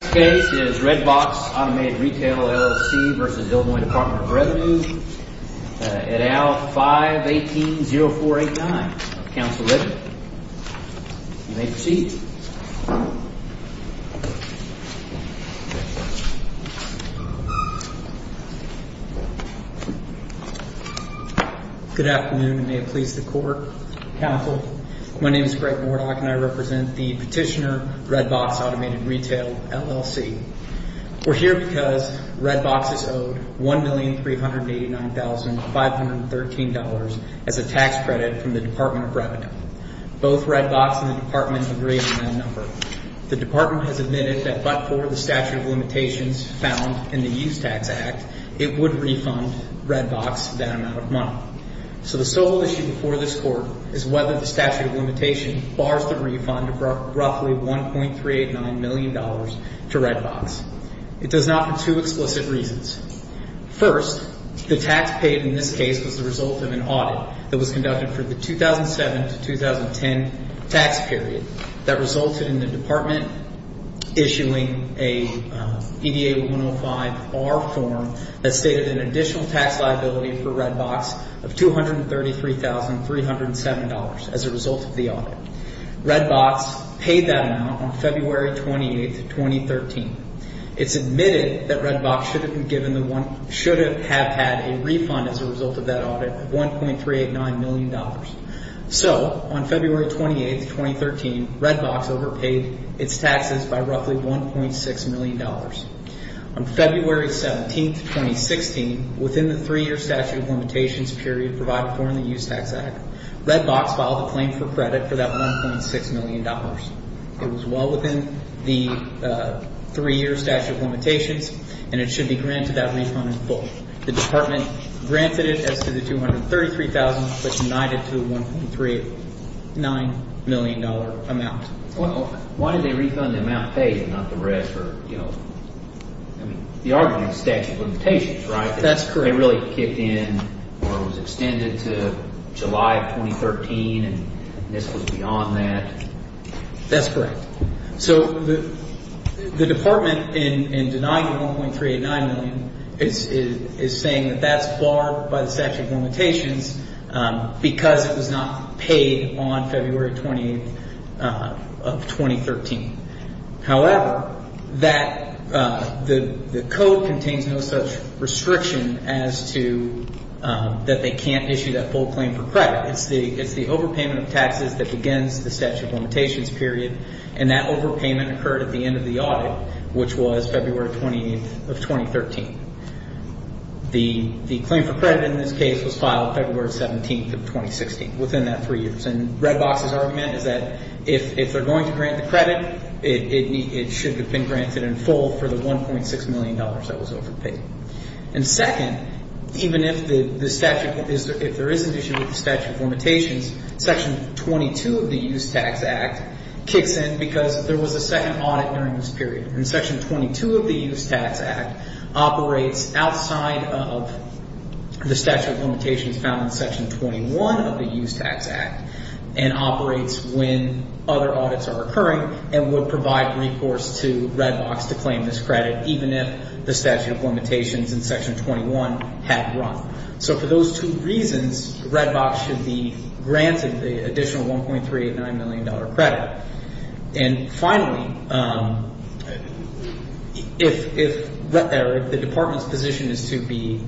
This case is Redbox Automated Retail, LLC v. Ill. Department of Revenue at A.L. 518-0489. Counsel Redman, you may proceed. Good afternoon and may it please the court, counsel. My name is Greg Mordock and I represent the petitioner Redbox Automated Retail, LLC. We're here because Redbox is owed $1,389,513 as a tax credit from the Department of Revenue. Both Redbox and the department agree on that number. The department has admitted that but for the statute of limitations found in the Use Tax Act, it would refund Redbox that amount of money. So the sole issue before this court is whether the statute of limitation bars the refund of roughly $1,389 million to Redbox. It does not for two explicit reasons. First, the tax paid in this case was the result of an audit that was conducted for the 2007 to 2010 tax period that resulted in the department issuing a EDA 105-R form that stated an additional tax liability for Redbox of $233,307 as a result of the audit. Redbox paid that amount on February 28, 2013. It's admitted that Redbox should have had a refund as a result of that audit of $1,389 million. So on February 28, 2013, Redbox overpaid its taxes by roughly $1.6 million. On February 17, 2016, within the three-year statute of limitations period provided for in the Use Tax Act, Redbox filed a claim for credit for that $1.6 million. It was well within the three-year statute of limitations and it should be granted that refund in full. The department granted it as to the $233,000 but denied it to the $1,389 million amount. Why did they refund the amount paid and not the rest or, you know, I mean, the argument is statute of limitations, right? That's correct. They really kicked in or it was extended to July of 2013 and this was beyond that. That's correct. So the department in denying the $1.389 million is saying that that's barred by the statute of limitations because it was not paid on February 28 of 2013. However, that the code contains no such restriction as to that they can't issue that full claim for credit. It's the overpayment of taxes that begins the statute of limitations period and that overpayment occurred at the end of the audit, which was February 28 of 2013. The claim for credit in this case was filed February 17 of 2016, within that three years. And Redbox's argument is that if they're going to grant the credit, it should have been granted in full for the $1.6 million that was overpaid. And second, even if the statute, if there is an issue with the statute of limitations, section 22 of the Use Tax Act kicks in because there was a second audit during this period. And section 22 of the Use Tax Act operates outside of the statute of limitations found in section 21 of the Use Tax Act and operates when other audits are occurring and would provide recourse to Redbox to claim this credit, even if the statute of limitations in section 21 had run. So for those two reasons, Redbox should be granted the additional $1.389 million credit. And finally, if the department's position is to be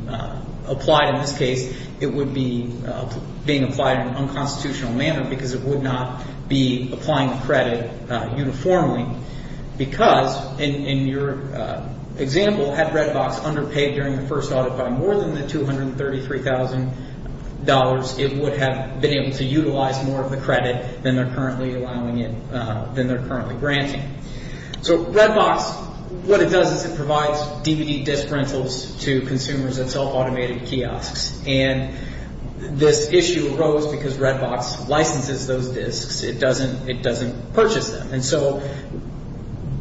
applied in this case, it would be being applied in an unconstitutional manner because it would not be applying credit uniformly. Because in your example, had Redbox underpaid during the first audit by more than the $233,000, it would have been able to utilize more of the credit than they're currently allowing it, than they're currently granting. So Redbox, what it does is it provides DVD disc rentals to consumers at self-automated kiosks. And this issue arose because Redbox licenses those discs. It doesn't purchase them. And so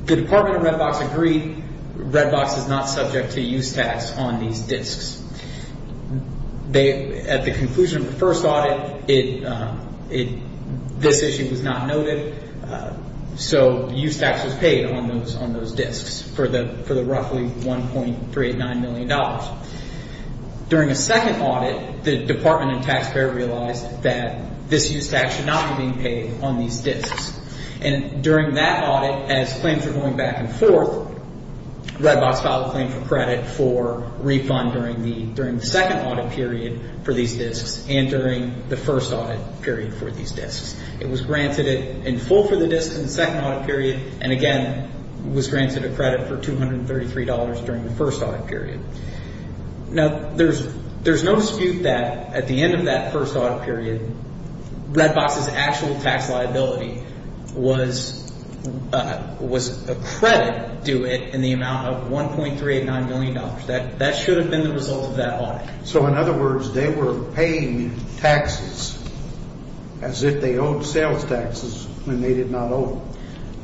the Department of Redbox agreed Redbox is not subject to use tax on these discs. At the conclusion of the first audit, this issue was not noted. So use tax was paid on those discs for the roughly $1.389 million. During a second audit, the department and taxpayer realized that this use tax should not be being paid on these discs. And during that audit, as claims were going back and forth, Redbox filed a claim for credit for refund during the second audit period for these discs and during the first audit period for these discs. It was granted it in full for the disc in the second audit period and, again, was granted a credit for $233 during the first audit period. Now, there's no dispute that at the end of that first audit period, Redbox's actual tax liability was a credit due it in the amount of $1.389 million. That should have been the result of that audit. So, in other words, they were paying taxes as if they owed sales taxes when they did not owe them.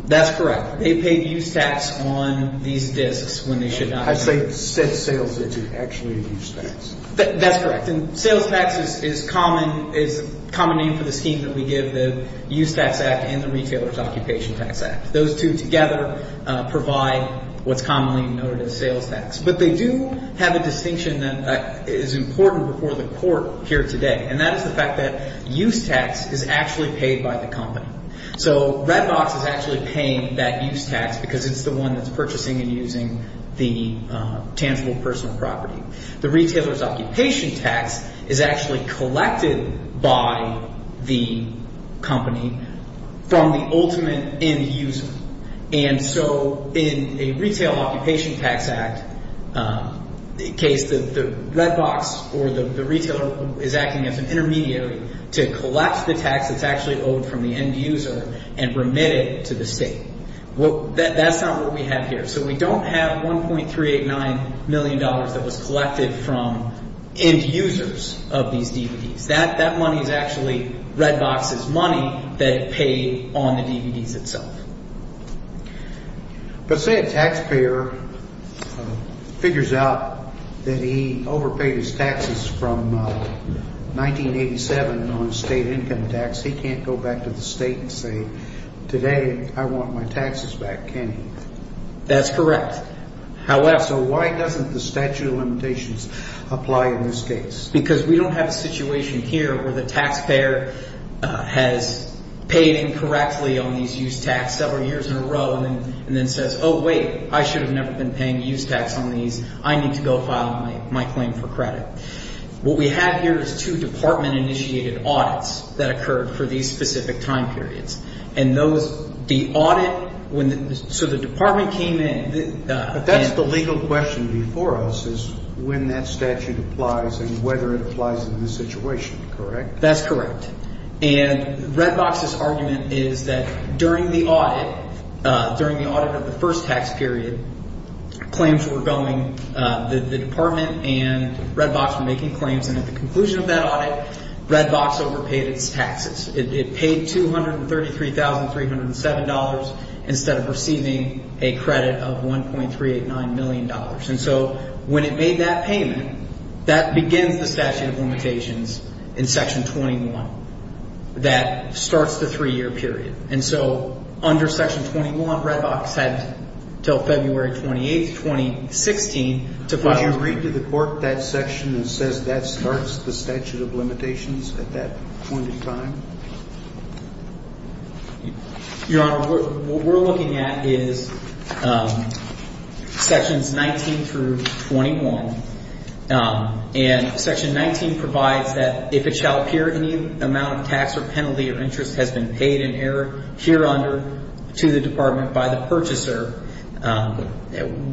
That's correct. They paid use tax on these discs when they should not have. I say set sales into actually use tax. That's correct. And sales tax is common name for the scheme that we give the Use Tax Act and the Retailer's Occupation Tax Act. Those two together provide what's commonly noted as sales tax. But they do have a distinction that is important before the court here today, and that is the fact that use tax is actually paid by the company. So Redbox is actually paying that use tax because it's the one that's purchasing and using the tangible personal property. The Retailer's Occupation Tax is actually collected by the company from the ultimate end user. And so in a Retailer's Occupation Tax Act case, the Redbox or the Retailer is acting as an intermediary to collect the tax that's actually owed from the end user and remit it to the state. That's not what we have here. So we don't have $1.389 million that was collected from end users of these DVDs. That money is actually Redbox's money that it paid on the DVDs itself. But say a taxpayer figures out that he overpaid his taxes from 1987 on state income tax. He can't go back to the state and say, today I want my taxes back, can he? That's correct. So why doesn't the statute of limitations apply in this case? Because we don't have a situation here where the taxpayer has paid incorrectly on these use tax several years in a row and then says, oh, wait, I should have never been paying use tax on these. I need to go file my claim for credit. What we have here is two department-initiated audits that occurred for these specific time periods. And those, the audit, so the department came in. That's the legal question before us is when that statute applies and whether it applies in this situation, correct? That's correct. And Redbox's argument is that during the audit, during the audit of the first tax period, claims were going, the department and Redbox were making claims. And at the conclusion of that audit, Redbox overpaid its taxes. It paid $233,307 instead of receiving a credit of $1.389 million. And so when it made that payment, that begins the statute of limitations in Section 21. That starts the three-year period. And so under Section 21, Redbox had until February 28, 2016 to file a claim. Does that support that section that says that starts the statute of limitations at that point in time? Your Honor, what we're looking at is Sections 19 through 21. And Section 19 provides that if it shall appear any amount of tax or penalty or interest has been paid in error here under to the department by the purchaser,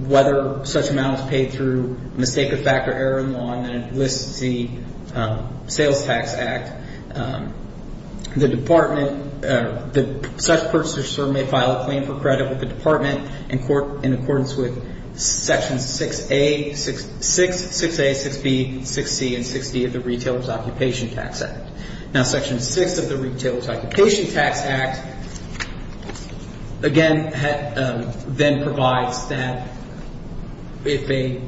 whether such amount is paid through mistake of fact or error in law, and it lists the Sales Tax Act, the department, such purchaser may file a claim for credit with the department in accordance with Section 6A, 6B, 6C, and 6D of the Retailer's Occupation Tax Act. Now, Section 6 of the Retailer's Occupation Tax Act, again, then provides that if a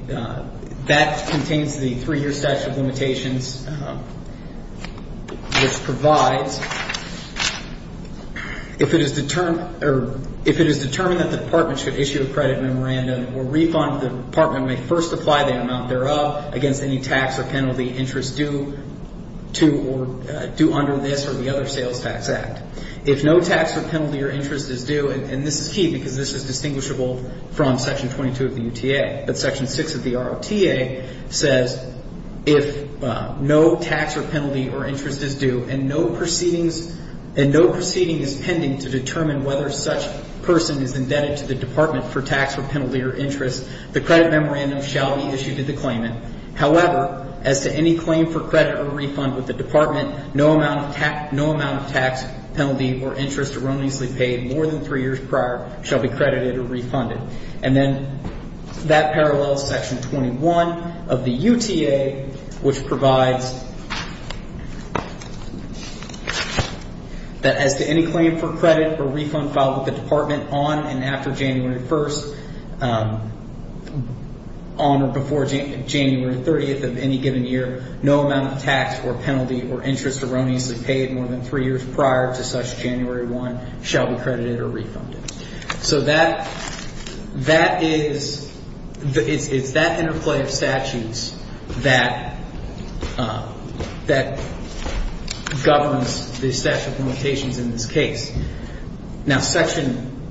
– that contains the three-year statute of limitations, which provides if it is determined – or if it is determined that the department should issue a credit memorandum or refund the department may first apply that amount thereof against any tax or penalty interest due to or due under this or the other Sales Tax Act. If no tax or penalty or interest is due – and this is key because this is distinguishable from Section 22 of the UTA, but Section 6 of the ROTA says if no tax or penalty or interest is due and no proceedings – to determine whether such person is indebted to the department for tax or penalty or interest, the credit memorandum shall be issued to the claimant. However, as to any claim for credit or refund with the department, no amount of tax, penalty, or interest erroneously paid more than three years prior shall be credited or refunded. And then that parallels Section 21 of the UTA, which provides that as to any claim for credit or refund filed with the department on and after January 1st, on or before January 30th of any given year, no amount of tax or penalty or interest erroneously paid more than three years prior to such January 1 shall be credited or refunded. So that – that is – it's that interplay of statutes that – that governs the statute of limitations in this case. Now, Section –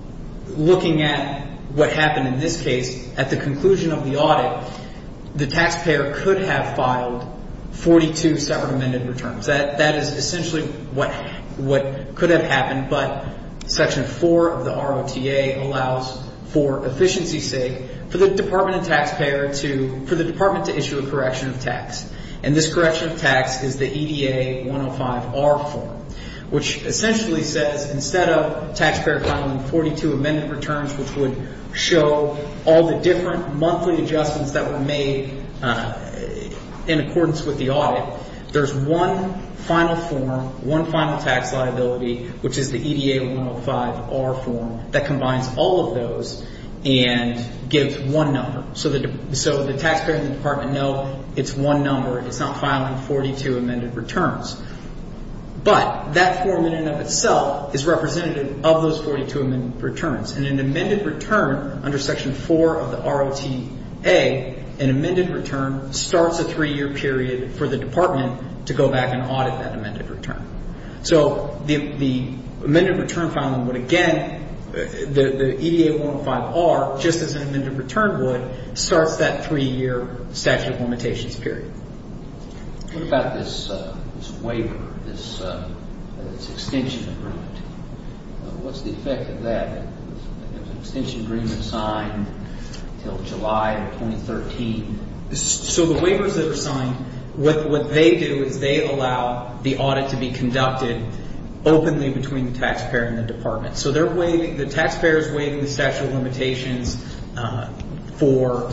looking at what happened in this case, at the conclusion of the audit, the taxpayer could have filed 42 separate amended returns. That is essentially what – what could have happened, but Section 4 of the ROTA allows, for efficiency's sake, for the department and taxpayer to – for the department to issue a correction of tax. And this correction of tax is the EDA 105-R form, which essentially says instead of taxpayer filing 42 amended returns, which would show all the different monthly adjustments that were made in accordance with the audit, there's one final form, one final tax liability, which is the EDA 105-R form that combines all of those and gives one number. So the – so the taxpayer and the department know it's one number. It's not filing 42 amended returns. But that form in and of itself is representative of those 42 amended returns. And an amended return under Section 4 of the ROTA, an amended return starts a three-year period for the department to go back and audit that amended return. So the amended return filing would again – the EDA 105-R, just as an amended return would, starts that three-year statute of limitations period. What about this waiver, this extension agreement? What's the effect of that if an extension agreement is signed until July of 2013? So the waivers that are signed, what they do is they allow the audit to be conducted openly between the taxpayer and the department. So they're waiving – the taxpayer is waiving the statute of limitations for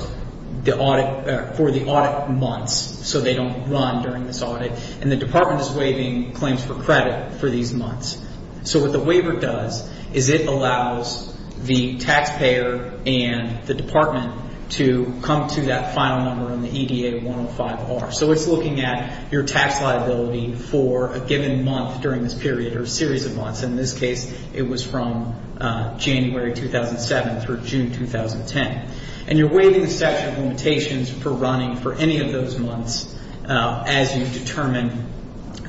the audit – for the audit months so they don't run during this audit. And the department is waiving claims for credit for these months. So what the waiver does is it allows the taxpayer and the department to come to that final number in the EDA 105-R. So it's looking at your tax liability for a given month during this period or a series of months. In this case, it was from January 2007 through June 2010. And you're waiving the statute of limitations for running for any of those months as you determine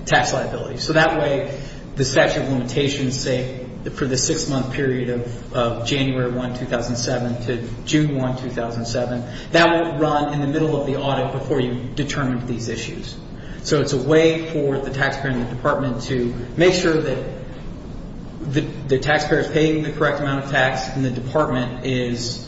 tax liability. So that way, the statute of limitations, say, for the six-month period of January 1, 2007 to June 1, 2007, that won't run in the middle of the audit before you've determined these issues. So it's a way for the taxpayer and the department to make sure that the taxpayer is paying the correct amount of tax and the department is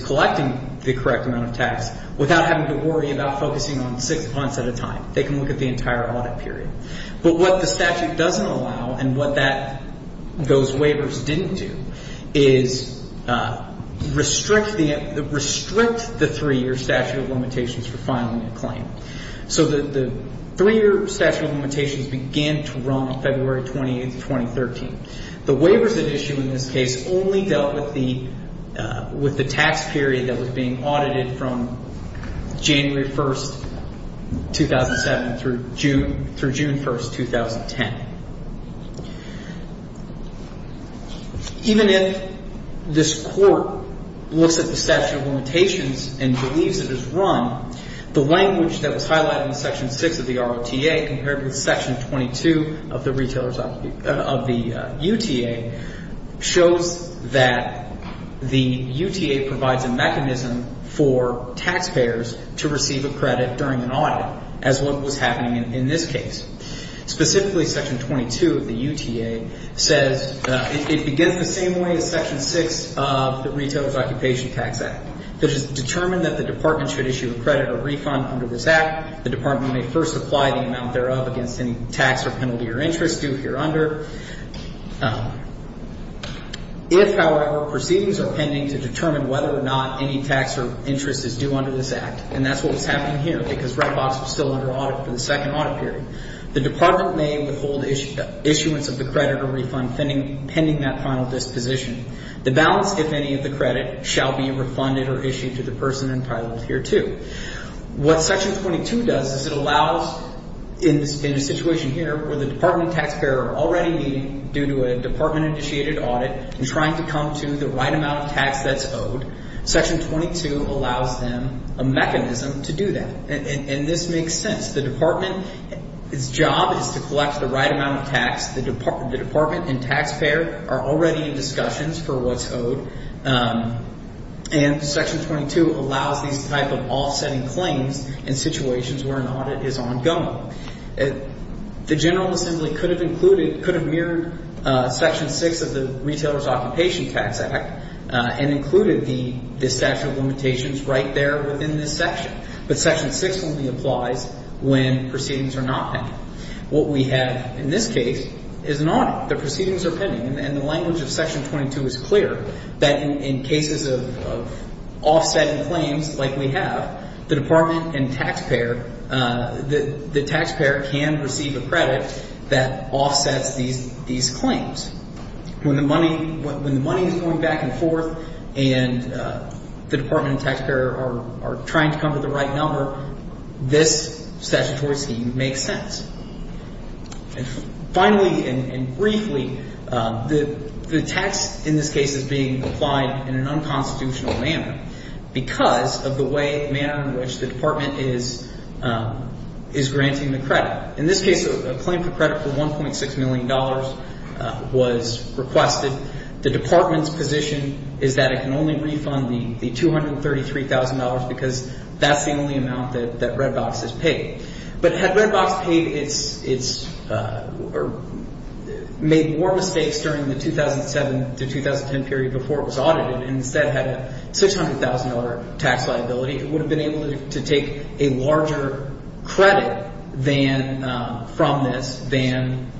collecting the correct amount of tax without having to worry about focusing on six months at a time. They can look at the entire audit period. But what the statute doesn't allow and what those waivers didn't do is restrict the three-year statute of limitations for filing a claim. So the three-year statute of limitations began to run on February 28, 2013. The waivers that issue in this case only dealt with the tax period that was being audited from January 1, 2007 through June 1, 2010. Even if this court looks at the statute of limitations and believes it is run, the language that was highlighted in Section 6 of the ROTA compared with Section 22 of the UTA shows that the UTA provides a mechanism for taxpayers to receive a credit during an audit as what was happening in this case. Specifically, Section 22 of the UTA says it begins the same way as Section 6 of the Retailer's Occupation Tax Act. It is determined that the department should issue a credit or refund under this act. The department may first apply the amount thereof against any tax or penalty or interest due here under. If, however, proceedings are pending to determine whether or not any tax or interest is due under this act, and that's what was happening here because Red Box was still under audit for the second audit period, the department may withhold issuance of the credit or refund pending that final disposition. The balance, if any, of the credit shall be refunded or issued to the person entitled here to. What Section 22 does is it allows, in the situation here where the department and taxpayer are already meeting due to a department-initiated audit and trying to come to the right amount of tax that's owed, Section 22 allows them a mechanism to do that. And this makes sense. The department's job is to collect the right amount of tax. The department and taxpayer are already in discussions for what's owed, and Section 22 allows these type of offsetting claims in situations where an audit is ongoing. The General Assembly could have included, could have mirrored Section 6 of the Retailer's Occupation Tax Act and included the statute of limitations right there within this section, but Section 6 only applies when proceedings are not pending. What we have in this case is an audit. The proceedings are pending, and the language of Section 22 is clear that in cases of offsetting claims like we have, the department and taxpayer, the taxpayer can receive a credit that offsets these claims. When the money is going back and forth and the department and taxpayer are trying to come to the right number, this statutory scheme makes sense. And finally and briefly, the tax in this case is being applied in an unconstitutional manner because of the way, manner in which the department is granting the credit. In this case, a claim for credit for $1.6 million was requested. The department's position is that it can only refund the $233,000 because that's the only amount that Redbox has paid. But had Redbox made more mistakes during the 2007 to 2010 period before it was audited and instead had a $600,000 tax liability, it would have been able to take a larger credit from this than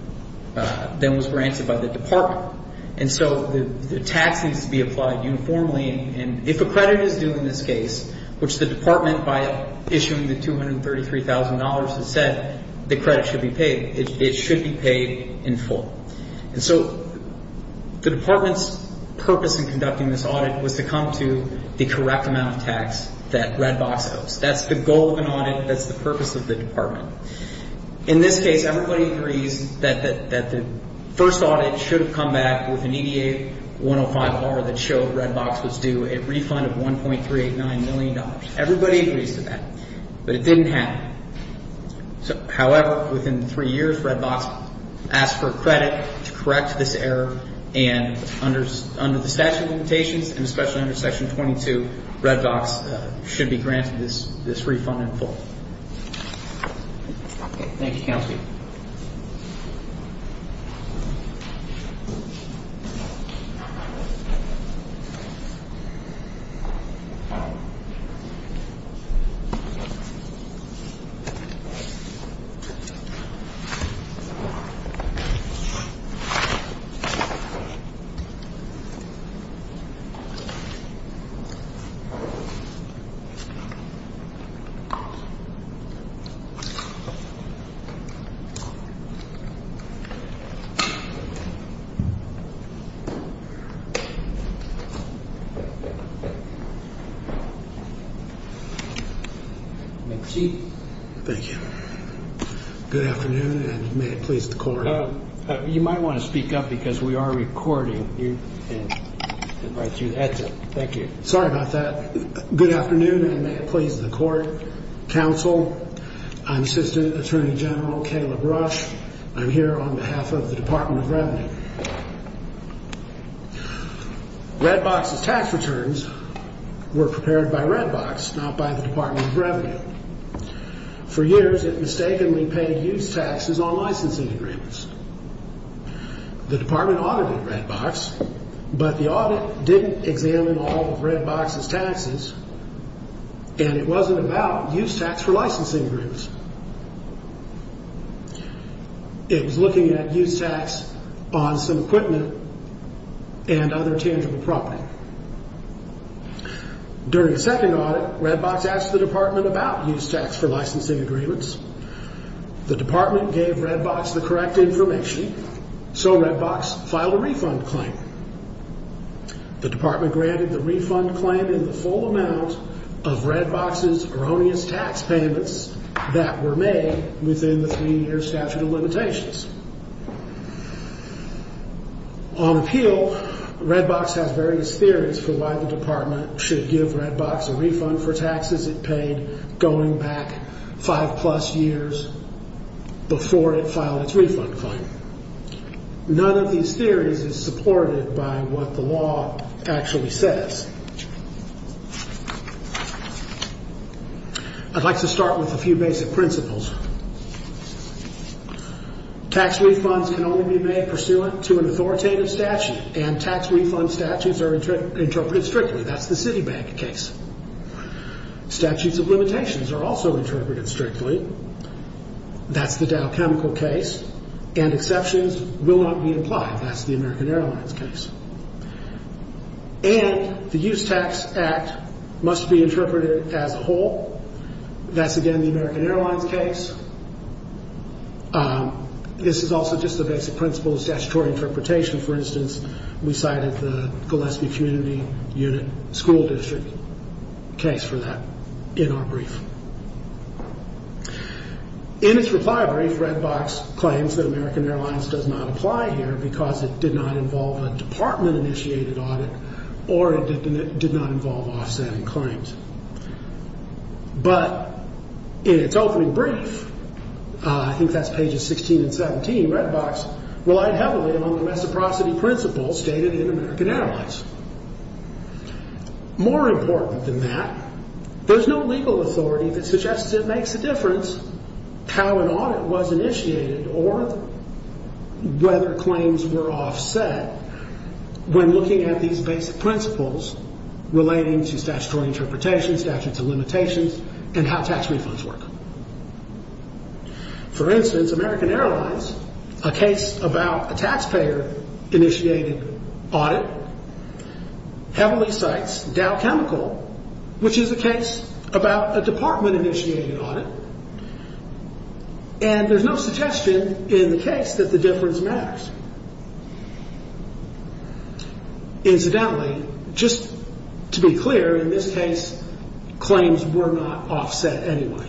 was granted by the department. And so the tax needs to be applied uniformly. And if a credit is due in this case, which the department, by issuing the $233,000, has said, the credit should be paid, it should be paid in full. And so the department's purpose in conducting this audit was to come to the correct amount of tax that Redbox owes. That's the goal of an audit. That's the purpose of the department. In this case, everybody agrees that the first audit should have come back with an EDA 105R that showed Redbox was due a refund of $1.389 million. Everybody agrees to that, but it didn't happen. However, within three years, Redbox asked for credit to correct this error, and under the statute of limitations, and especially under Section 22, Redbox should be granted this refund in full. Thank you, Counselor. Thank you. Thank you. Thank you. Thank you. Good afternoon, and may it please the Court. You might want to speak up because we are recording. Thank you. Sorry about that. Good afternoon, and may it please the Court. Counsel, I'm Assistant Attorney General Caleb Rush. I'm here on behalf of the Department of Revenue. Redbox's tax returns were prepared by Redbox, not by the Department of Revenue. For years, it mistakenly paid use taxes on licensing agreements. The Department audited Redbox, but the audit didn't examine all of Redbox's taxes, and it wasn't about use tax for licensing agreements. It was looking at use tax on some equipment and other tangible property. During a second audit, Redbox asked the Department about use tax for licensing agreements. The Department gave Redbox the correct information, so Redbox filed a refund claim. The Department granted the refund claim in the full amount of Redbox's erroneous tax payments that were made within the three-year statute of limitations. On appeal, Redbox has various theories for why the Department should give Redbox a refund for taxes it paid going back five-plus years before it filed its refund claim. None of these theories is supported by what the law actually says. I'd like to start with a few basic principles. Tax refunds can only be made pursuant to an authoritative statute, and tax refund statutes are interpreted strictly. That's the Citibank case. Statutes of limitations are also interpreted strictly. That's the Dow Chemical case. And exceptions will not be applied. That's the American Airlines case. And the Use Tax Act must be interpreted as a whole. That's, again, the American Airlines case. This is also just the basic principles of statutory interpretation. For instance, we cited the Gillespie Community Unit School District case for that in our brief. In its reply brief, Redbox claims that American Airlines does not apply here because it did not involve a Department-initiated audit or it did not involve offsetting claims. But in its opening brief, I think that's pages 16 and 17, Redbox relied heavily on the reciprocity principle stated in American Airlines. More important than that, there's no legal authority that suggests it makes a difference how an audit was initiated or whether claims were offset when looking at these basic principles relating to statutory interpretation, statutes of limitations, and how tax refunds work. For instance, American Airlines, a case about a taxpayer-initiated audit, heavily cites Dow Chemical, which is a case about a Department-initiated audit, and there's no suggestion in the case that the difference matters. Incidentally, just to be clear, in this case, claims were not offset anyway.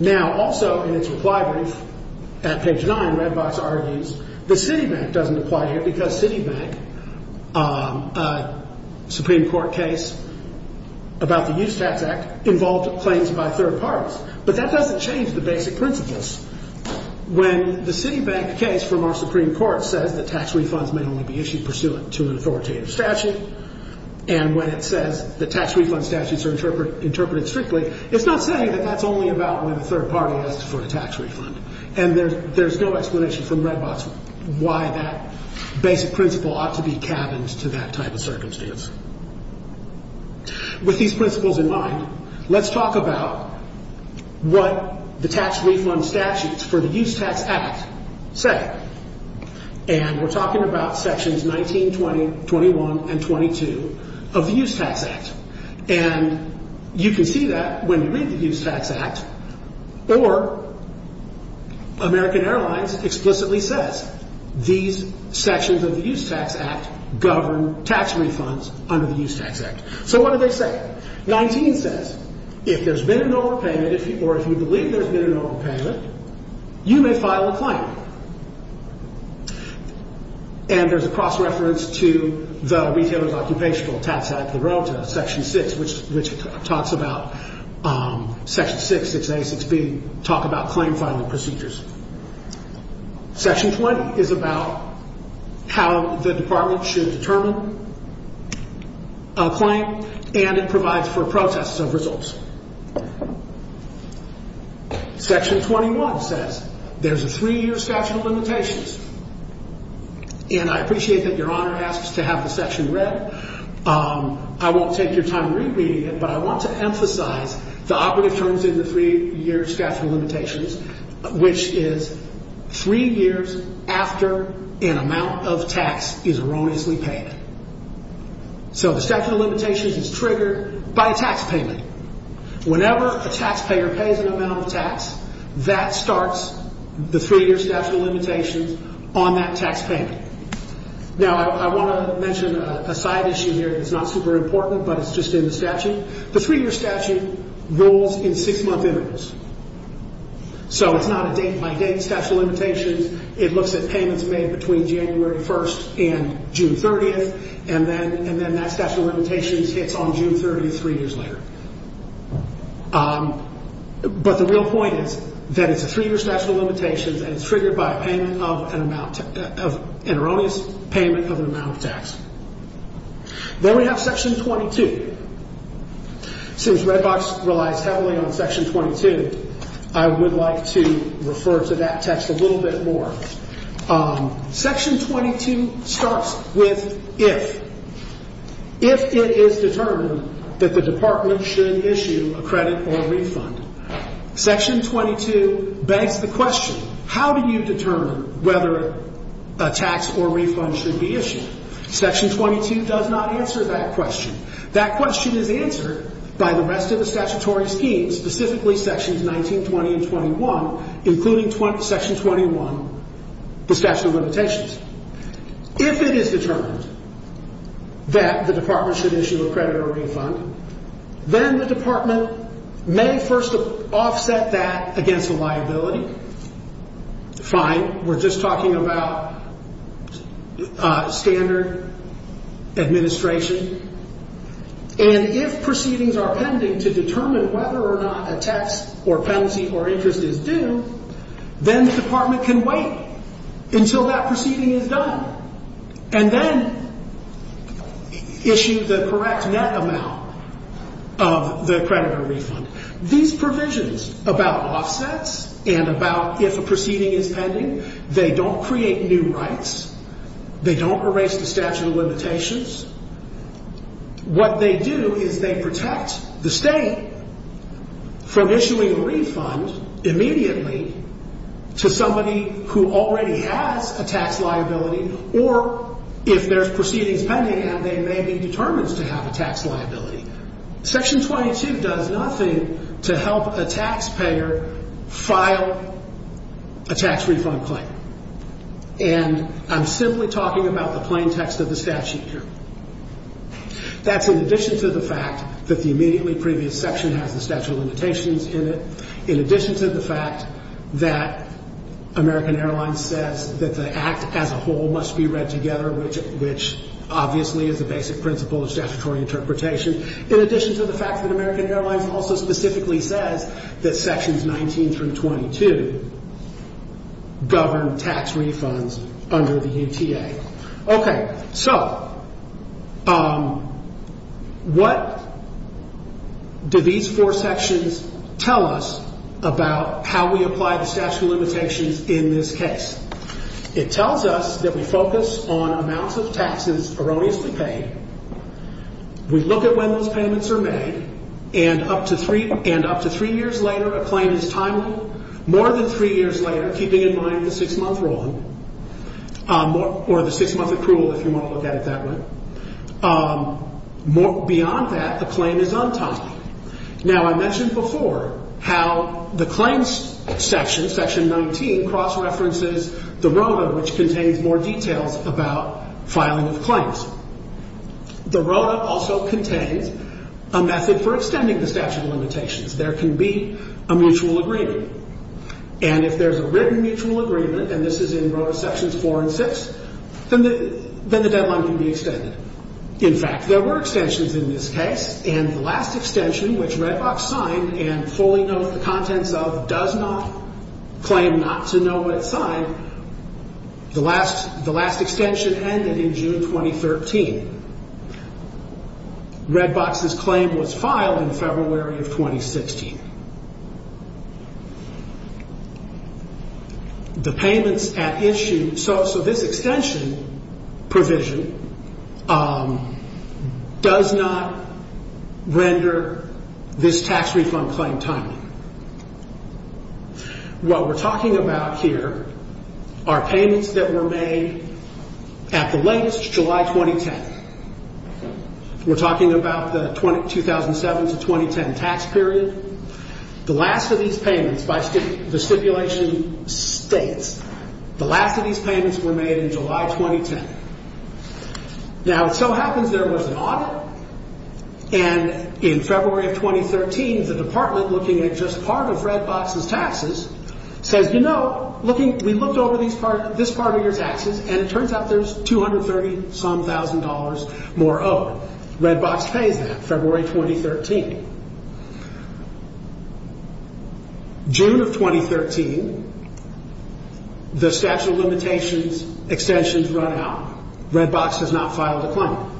Now, also in its reply brief, at page 9, Redbox argues that Citibank doesn't apply here because Citibank, a Supreme Court case about the Use Tax Act, involved claims by third parties. But that doesn't change the basic principles. When the Citibank case from our Supreme Court says that tax refunds may only be issued pursuant to an authoritative statute, and when it says that tax refund statutes are interpreted strictly, it's not saying that that's only about when a third party asks for a tax refund. And there's no explanation from Redbox why that basic principle ought to be cabined to that type of circumstance. With these principles in mind, let's talk about what the tax refund statutes for the Use Tax Act say. And we're talking about sections 19, 20, 21, and 22 of the Use Tax Act. And you can see that when you read the Use Tax Act, or American Airlines explicitly says these sections of the Use Tax Act govern tax refunds under the Use Tax Act. So what do they say? 19 says, if there's been an overpayment, or if you believe there's been an overpayment, you may file a claim. And there's a cross-reference to the Retailers' Occupational Tax Act, the ROTA, Section 6, which talks about Section 6, 6A, 6B, talk about claim filing procedures. Section 20 is about how the Department should determine a claim, and it provides for protests of results. Section 21 says there's a three-year statute of limitations. And I appreciate that Your Honor asks to have the section read. I won't take your time re-reading it, but I want to emphasize the operative terms in the three-year statute of limitations, which is three years after an amount of tax is erroneously paid. So the statute of limitations is triggered by a tax payment. Whenever a taxpayer pays an amount of tax, that starts the three-year statute of limitations on that tax payment. Now I want to mention a side issue here that's not super important, but it's just in the statute. The three-year statute rules in six-month intervals. So it's not a date-by-date statute of limitations. It looks at payments made between January 1st and June 30th, and then that statute of limitations hits on June 30th, three years later. But the real point is that it's a three-year statute of limitations, and it's triggered by an erroneous payment of an amount of tax. Then we have Section 22. Since Red Box relies heavily on Section 22, I would like to refer to that text a little bit more. Section 22 starts with if. If it is determined that the Department should issue a credit or refund, Section 22 begs the question, how do you determine whether a tax or refund should be issued? Section 22 does not answer that question. That question is answered by the rest of the statutory schemes, specifically Sections 19, 20, and 21, including Section 21, the statute of limitations. If it is determined that the Department should issue a credit or refund, then the Department may first offset that against a liability. Fine. We're just talking about standard administration. And if proceedings are pending to determine whether or not a tax or penalty or interest is due, then the Department can wait until that proceeding is done, and then issue the correct net amount of the credit or refund. These provisions about offsets and about if a proceeding is pending, they don't create new rights. They don't erase the statute of limitations. What they do is they protect the state from issuing a refund immediately to somebody who already has a tax liability, or if there's proceedings pending and they may be determined to have a tax liability. Section 22 does nothing to help a taxpayer file a tax refund claim. And I'm simply talking about the plain text of the statute here. That's in addition to the fact that the immediately previous section has the statute of limitations in it, in addition to the fact that American Airlines says that the act as a whole must be read together, which obviously is a basic principle of statutory interpretation, in addition to the fact that American Airlines also specifically says that sections 19 through 22 govern tax refunds under the UTA. Okay. So what do these four sections tell us about how we apply the statute of limitations in this case? It tells us that we focus on amounts of taxes erroneously paid. We look at when those payments are made. And up to three years later, a claim is timely. More than three years later, keeping in mind the six-month rule, or the six-month accrual, if you want to look at it that way. Beyond that, the claim is untimely. Now, I mentioned before how the claims section, section 19, cross-references the ROTA, which contains more details about filing of claims. The ROTA also contains a method for extending the statute of limitations. There can be a mutual agreement. And if there's a written mutual agreement, and this is in ROTA sections 4 and 6, then the deadline can be extended. In fact, there were extensions in this case. And the last extension, which Redbox signed and fully knows the contents of, does not claim not to know what it signed. The last extension ended in June 2013. Redbox's claim was filed in February of 2016. The payments at issue, so this extension provision does not render this tax refund claim timely. What we're talking about here are payments that were made at the latest, July 2010. We're talking about the 2007 to 2010 tax period. The last of these payments, by the stipulation states, the last of these payments were made in July 2010. Now, it so happens there was an audit, and in February of 2013, the department, looking at just part of Redbox's taxes, says, you know, we looked over this part of your taxes, and it turns out there's $230-some-thousand more owed. Redbox pays that, February 2013. June of 2013, the statute of limitations extensions run out. Redbox has not filed a claim.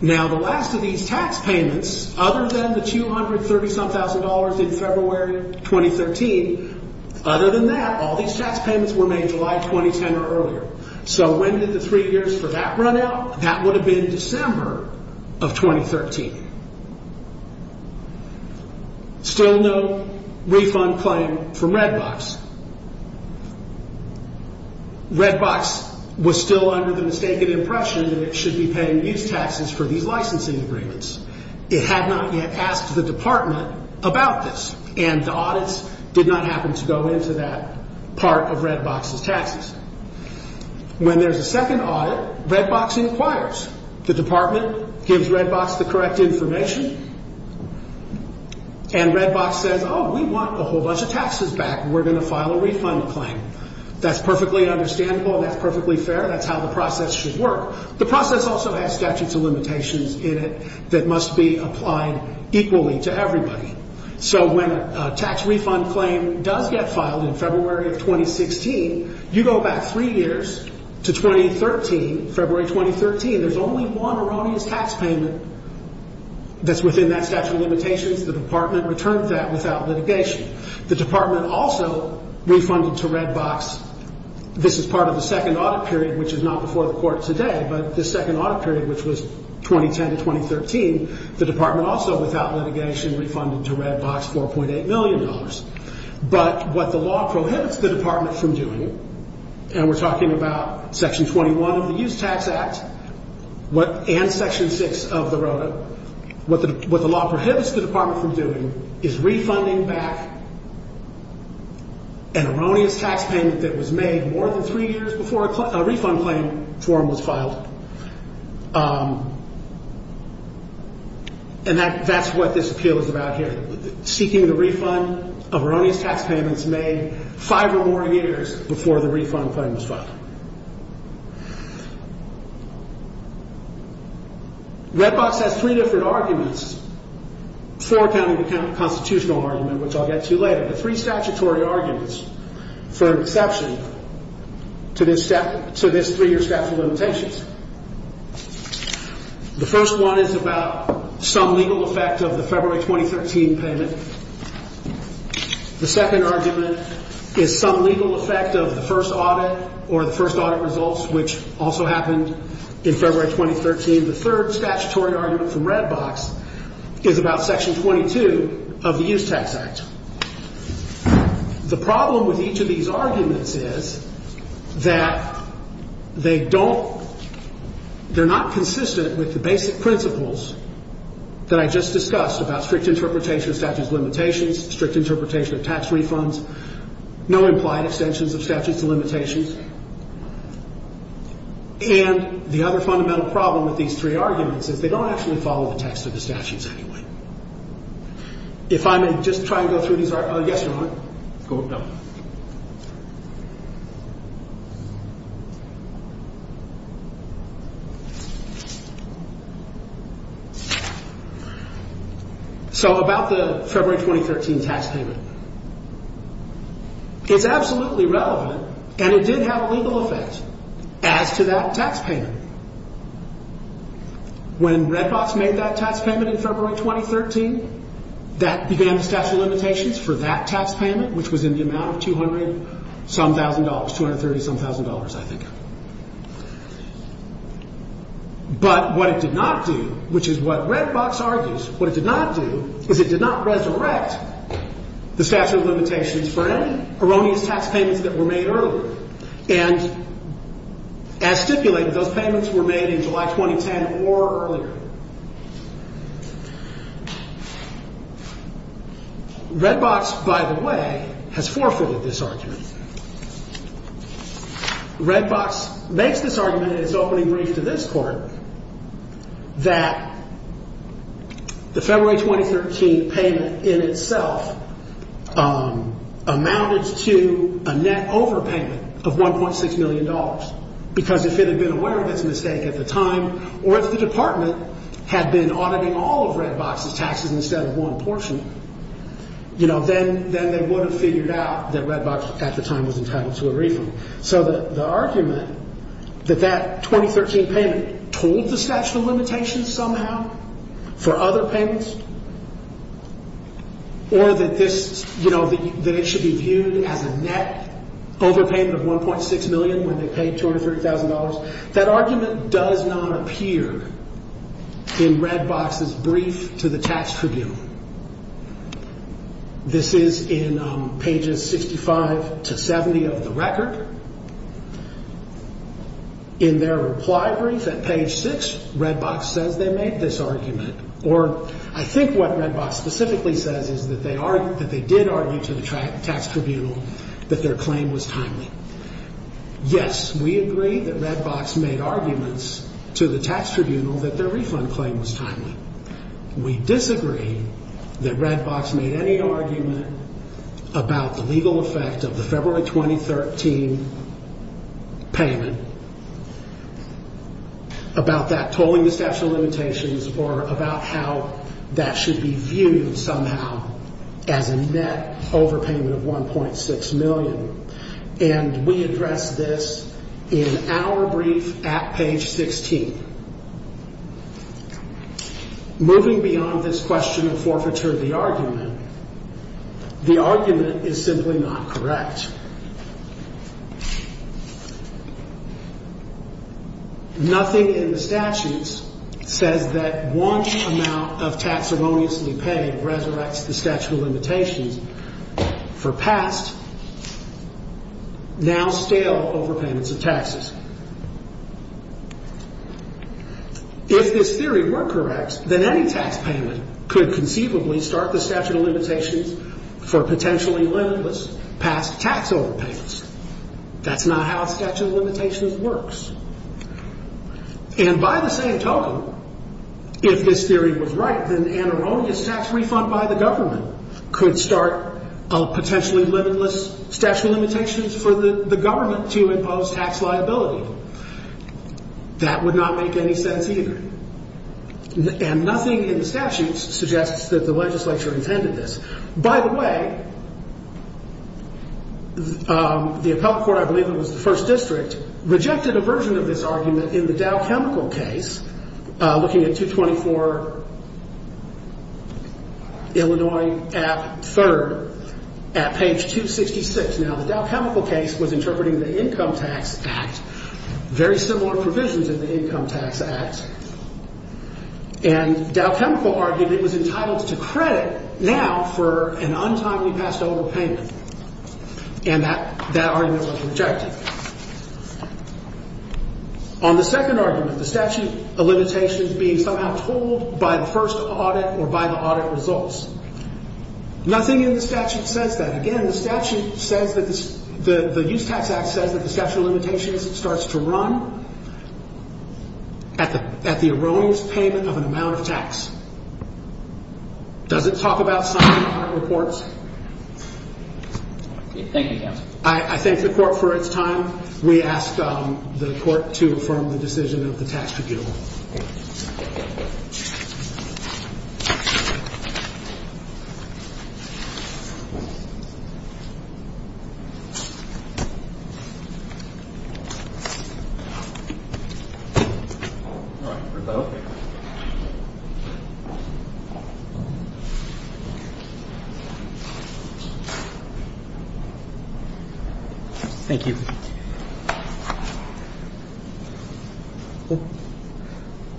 Now, the last of these tax payments, other than the $230-some-thousand in February 2013, other than that, all these tax payments were made July 2010 or earlier. So, when did the three years for that run out? That would have been December of 2013. Still no refund claim from Redbox. Redbox was still under the mistaken impression that it should be paying these taxes for these licensing agreements. It had not yet asked the department about this, and the audits did not happen to go into that part of Redbox's taxes. When there's a second audit, Redbox inquires. The department gives Redbox the correct information, and Redbox says, oh, we want a whole bunch of taxes back. We're going to file a refund claim. That's perfectly understandable, and that's perfectly fair. That's how the process should work. The process also has statutes of limitations in it that must be applied equally to everybody. So, when a tax refund claim does get filed in February of 2016, you go back three years to 2013, February 2013. There's only one erroneous tax payment that's within that statute of limitations. The department returned that without litigation. The department also refunded to Redbox. This is part of the second audit period, which is not before the court today, but the second audit period, which was 2010 to 2013, the department also, without litigation, refunded to Redbox $4.8 million. But what the law prohibits the department from doing, and we're talking about Section 21 of the Use Tax Act and Section 6 of the ROTA, but what the law prohibits the department from doing is refunding back an erroneous tax payment that was made more than three years before a refund claim form was filed. And that's what this appeal is about here. Seeking the refund of erroneous tax payments made five or more years before the refund claim was filed. Redbox has three different arguments for a county-to-county constitutional argument, which I'll get to later. The three statutory arguments for exception to this three-year statute of limitations. The first one is about some legal effect of the February 2013 payment. The second argument is some legal effect of the first audit or the first audit results, which also happened in February 2013. The third statutory argument from Redbox is about Section 22 of the Use Tax Act. The problem with each of these arguments is that they don't, they're not consistent with the basic principles that I just discussed about strict interpretation of statute of limitations, strict interpretation of tax refunds, no implied extensions of statutes of limitations. And the other fundamental problem with these three arguments is they don't actually follow the text of the statutes anyway. If I may just try and go through these arguments. Yes, Your Honor. Go ahead. So about the February 2013 tax payment. It's absolutely relevant and it did have a legal effect as to that tax payment. When Redbox made that tax payment in February 2013, that began the statute of limitations for that tax payment, which was in the amount of 200-some thousand dollars, 230-some thousand dollars, I think. But what it did not do, which is what Redbox argues, what it did not do is it did not resurrect the statute of limitations for any erroneous tax payments that were made earlier. And as stipulated, those payments were made in July 2010 or earlier. Redbox, by the way, has forfeited this argument. Redbox makes this argument in its opening brief to this Court that the February 2013 payment in itself amounted to a net overpayment of $1.6 million because if it had been aware of its mistake at the time or if the Department had been auditing all of Redbox's taxes instead of one portion, then they would have figured out that Redbox at the time was entitled to a refund. So the argument that that 2013 payment told the statute of limitations somehow for other payments or that it should be viewed as a net overpayment of $1.6 million when they paid $230,000, that argument does not appear in Redbox's brief to the Tax Tribune. This is in pages 65 to 70 of the record. In their reply brief at page 6, Redbox says they made this argument. Or I think what Redbox specifically says is that they did argue to the Tax Tribunal that their claim was timely. Yes, we agree that Redbox made arguments to the Tax Tribunal that their refund claim was timely. We disagree that Redbox made any argument about the legal effect of the February 2013 payment, about that tolling the statute of limitations or about how that should be viewed somehow as a net overpayment of $1.6 million. And we address this in our brief at page 16. Moving beyond this question of forfeiture of the argument, the argument is simply not correct. Nothing in the statutes says that one amount of tax erroneously paid resurrects the statute of limitations for past, now stale overpayments of taxes. If this theory were correct, then any tax payment could conceivably start the statute of limitations for potentially limitless past tax overpayments. That's not how statute of limitations works. And by the same token, if this theory was right, then an erroneous tax refund by the government could start a potentially limitless statute of limitations for the government to impose tax liability. That would not make any sense either. And nothing in the statutes suggests that the legislature intended this. By the way, the appellate court, I believe it was the first district, rejected a version of this argument in the Dow Chemical case, looking at 224 Illinois at 3rd, at page 266. Now, the Dow Chemical case was interpreting the Income Tax Act, very similar provisions in the Income Tax Act. And Dow Chemical argued it was entitled to credit now for an untimely past overpayment. And that argument was rejected. On the second argument, the statute of limitations being somehow told by the first audit or by the audit results, nothing in the statute says that. Again, the statute says that the Use Tax Act says that the statute of limitations starts to run at the erroneous payment of an amount of tax. Does it talk about signing on reports? Thank you, counsel. I thank the court for its time. We ask the court to affirm the decision of the tax tribunal. Thank you. Thank you. Thank you.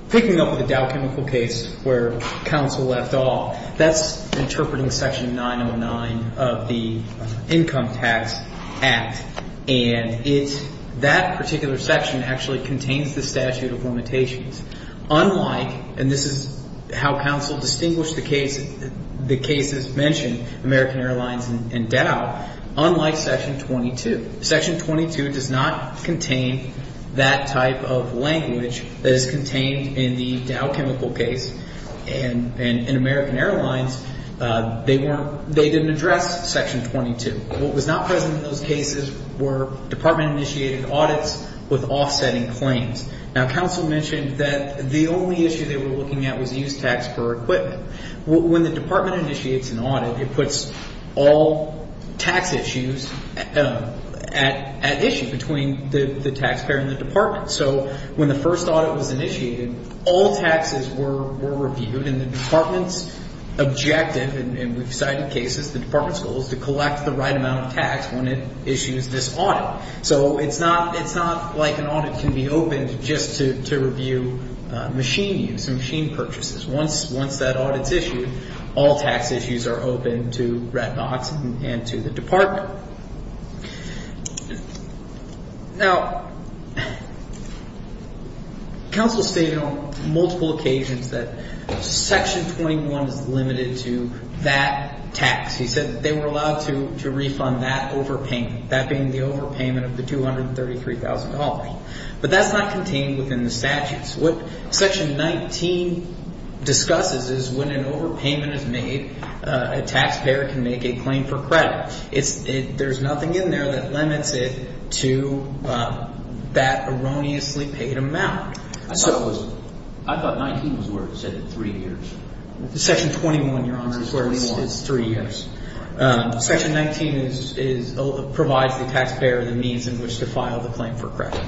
Picking up on the Dow Chemical case where counsel left off, that's interpreting section 909 of the Income Tax Act. And it's that particular section actually contains the statute of limitations. Unlike, and this is how counsel distinguished the cases mentioned, American Airlines and Dow, unlike section 22, section 22 does not contain that type of language that is contained in the Dow Chemical case. And in American Airlines, they didn't address section 22. What was not present in those cases were department-initiated audits with offsetting claims. Now, counsel mentioned that the only issue they were looking at was use tax per equipment. When the department initiates an audit, it puts all tax issues at issue between the taxpayer and the department. So when the first audit was initiated, all taxes were reviewed. And the department's objective, and we've cited cases, the department's goal is to collect the right amount of tax when it issues this audit. So it's not like an audit can be opened just to review machine use and machine purchases. Once that audit's issued, all tax issues are open to red dots and to the department. Now, counsel stated on multiple occasions that section 21 is limited to that tax. He said that they were allowed to refund that overpayment, that being the overpayment of the $233,000. But that's not contained within the statutes. What section 19 discusses is when an overpayment is made, a taxpayer can make a claim for credit. There's nothing in there that limits it to that erroneously paid amount. I thought 19 was where it said three years. Section 21, Your Honor, is where it says three years. Section 19 provides the taxpayer the means in which to file the claim for credit.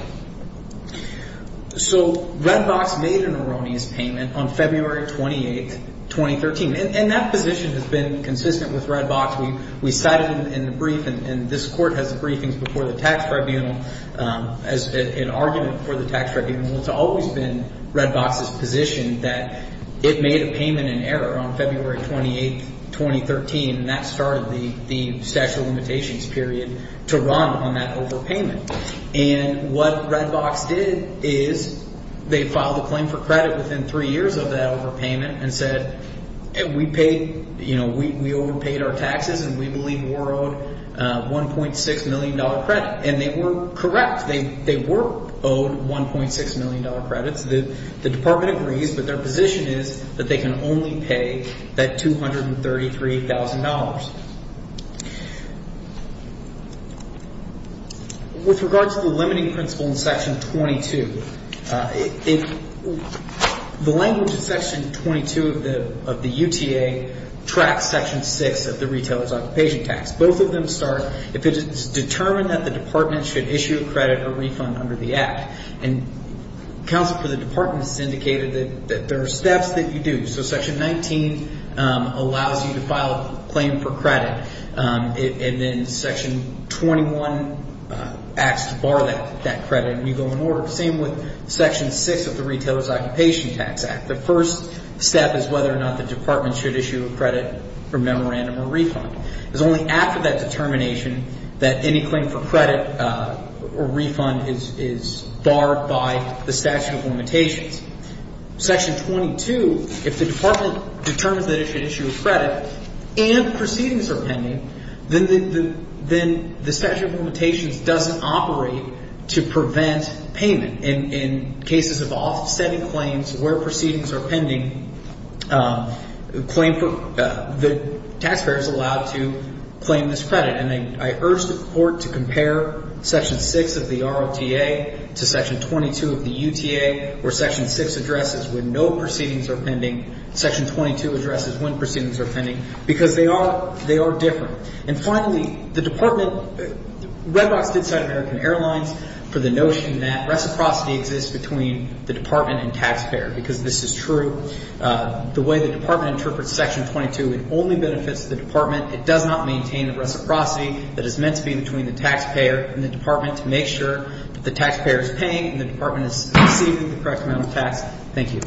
So Redbox made an erroneous payment on February 28, 2013, and that position has been consistent with Redbox. We cited it in the brief, and this court has briefings before the tax tribunal as an argument for the tax tribunal. It's always been Redbox's position that it made a payment in error on February 28, 2013, and that started the statute of limitations period to run on that overpayment. And what Redbox did is they filed a claim for credit within three years of that overpayment and said we paid – we overpaid our taxes and we believe were owed $1.6 million credit. And they were correct. They were owed $1.6 million credits. The department agrees, but their position is that they can only pay that $233,000. With regards to the limiting principle in Section 22, the language in Section 22 of the UTA tracks Section 6 of the Retailer's Occupation Tax. Both of them start if it is determined that the department should issue a credit or refund under the act. And counsel for the department has indicated that there are steps that you do. So Section 19 allows you to file a claim for credit, and then Section 21 acts to bar that credit, and you go in order. Same with Section 6 of the Retailer's Occupation Tax Act. The first step is whether or not the department should issue a credit or memorandum or refund. It's only after that determination that any claim for credit or refund is barred by the statute of limitations. Section 22, if the department determines that it should issue a credit and proceedings are pending, then the statute of limitations doesn't operate to prevent payment. In cases of offsetting claims where proceedings are pending, the taxpayer is allowed to claim this credit. And I urge the Court to compare Section 6 of the ROTA to Section 22 of the UTA, where Section 6 addresses when no proceedings are pending, Section 22 addresses when proceedings are pending, because they are different. And finally, the department – Red Rocks did cite American Airlines for the notion that reciprocity exists between the department and taxpayer, because this is true. The way the department interprets Section 22, it only benefits the department. It does not maintain the reciprocity that is meant to be between the taxpayer and the department to make sure that the taxpayer is paying and the department is receiving the correct amount of tax. Thank you.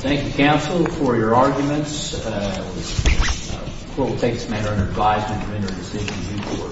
Thank you, counsel, for your arguments. The Court will take this matter under advisement to render a decision in due course.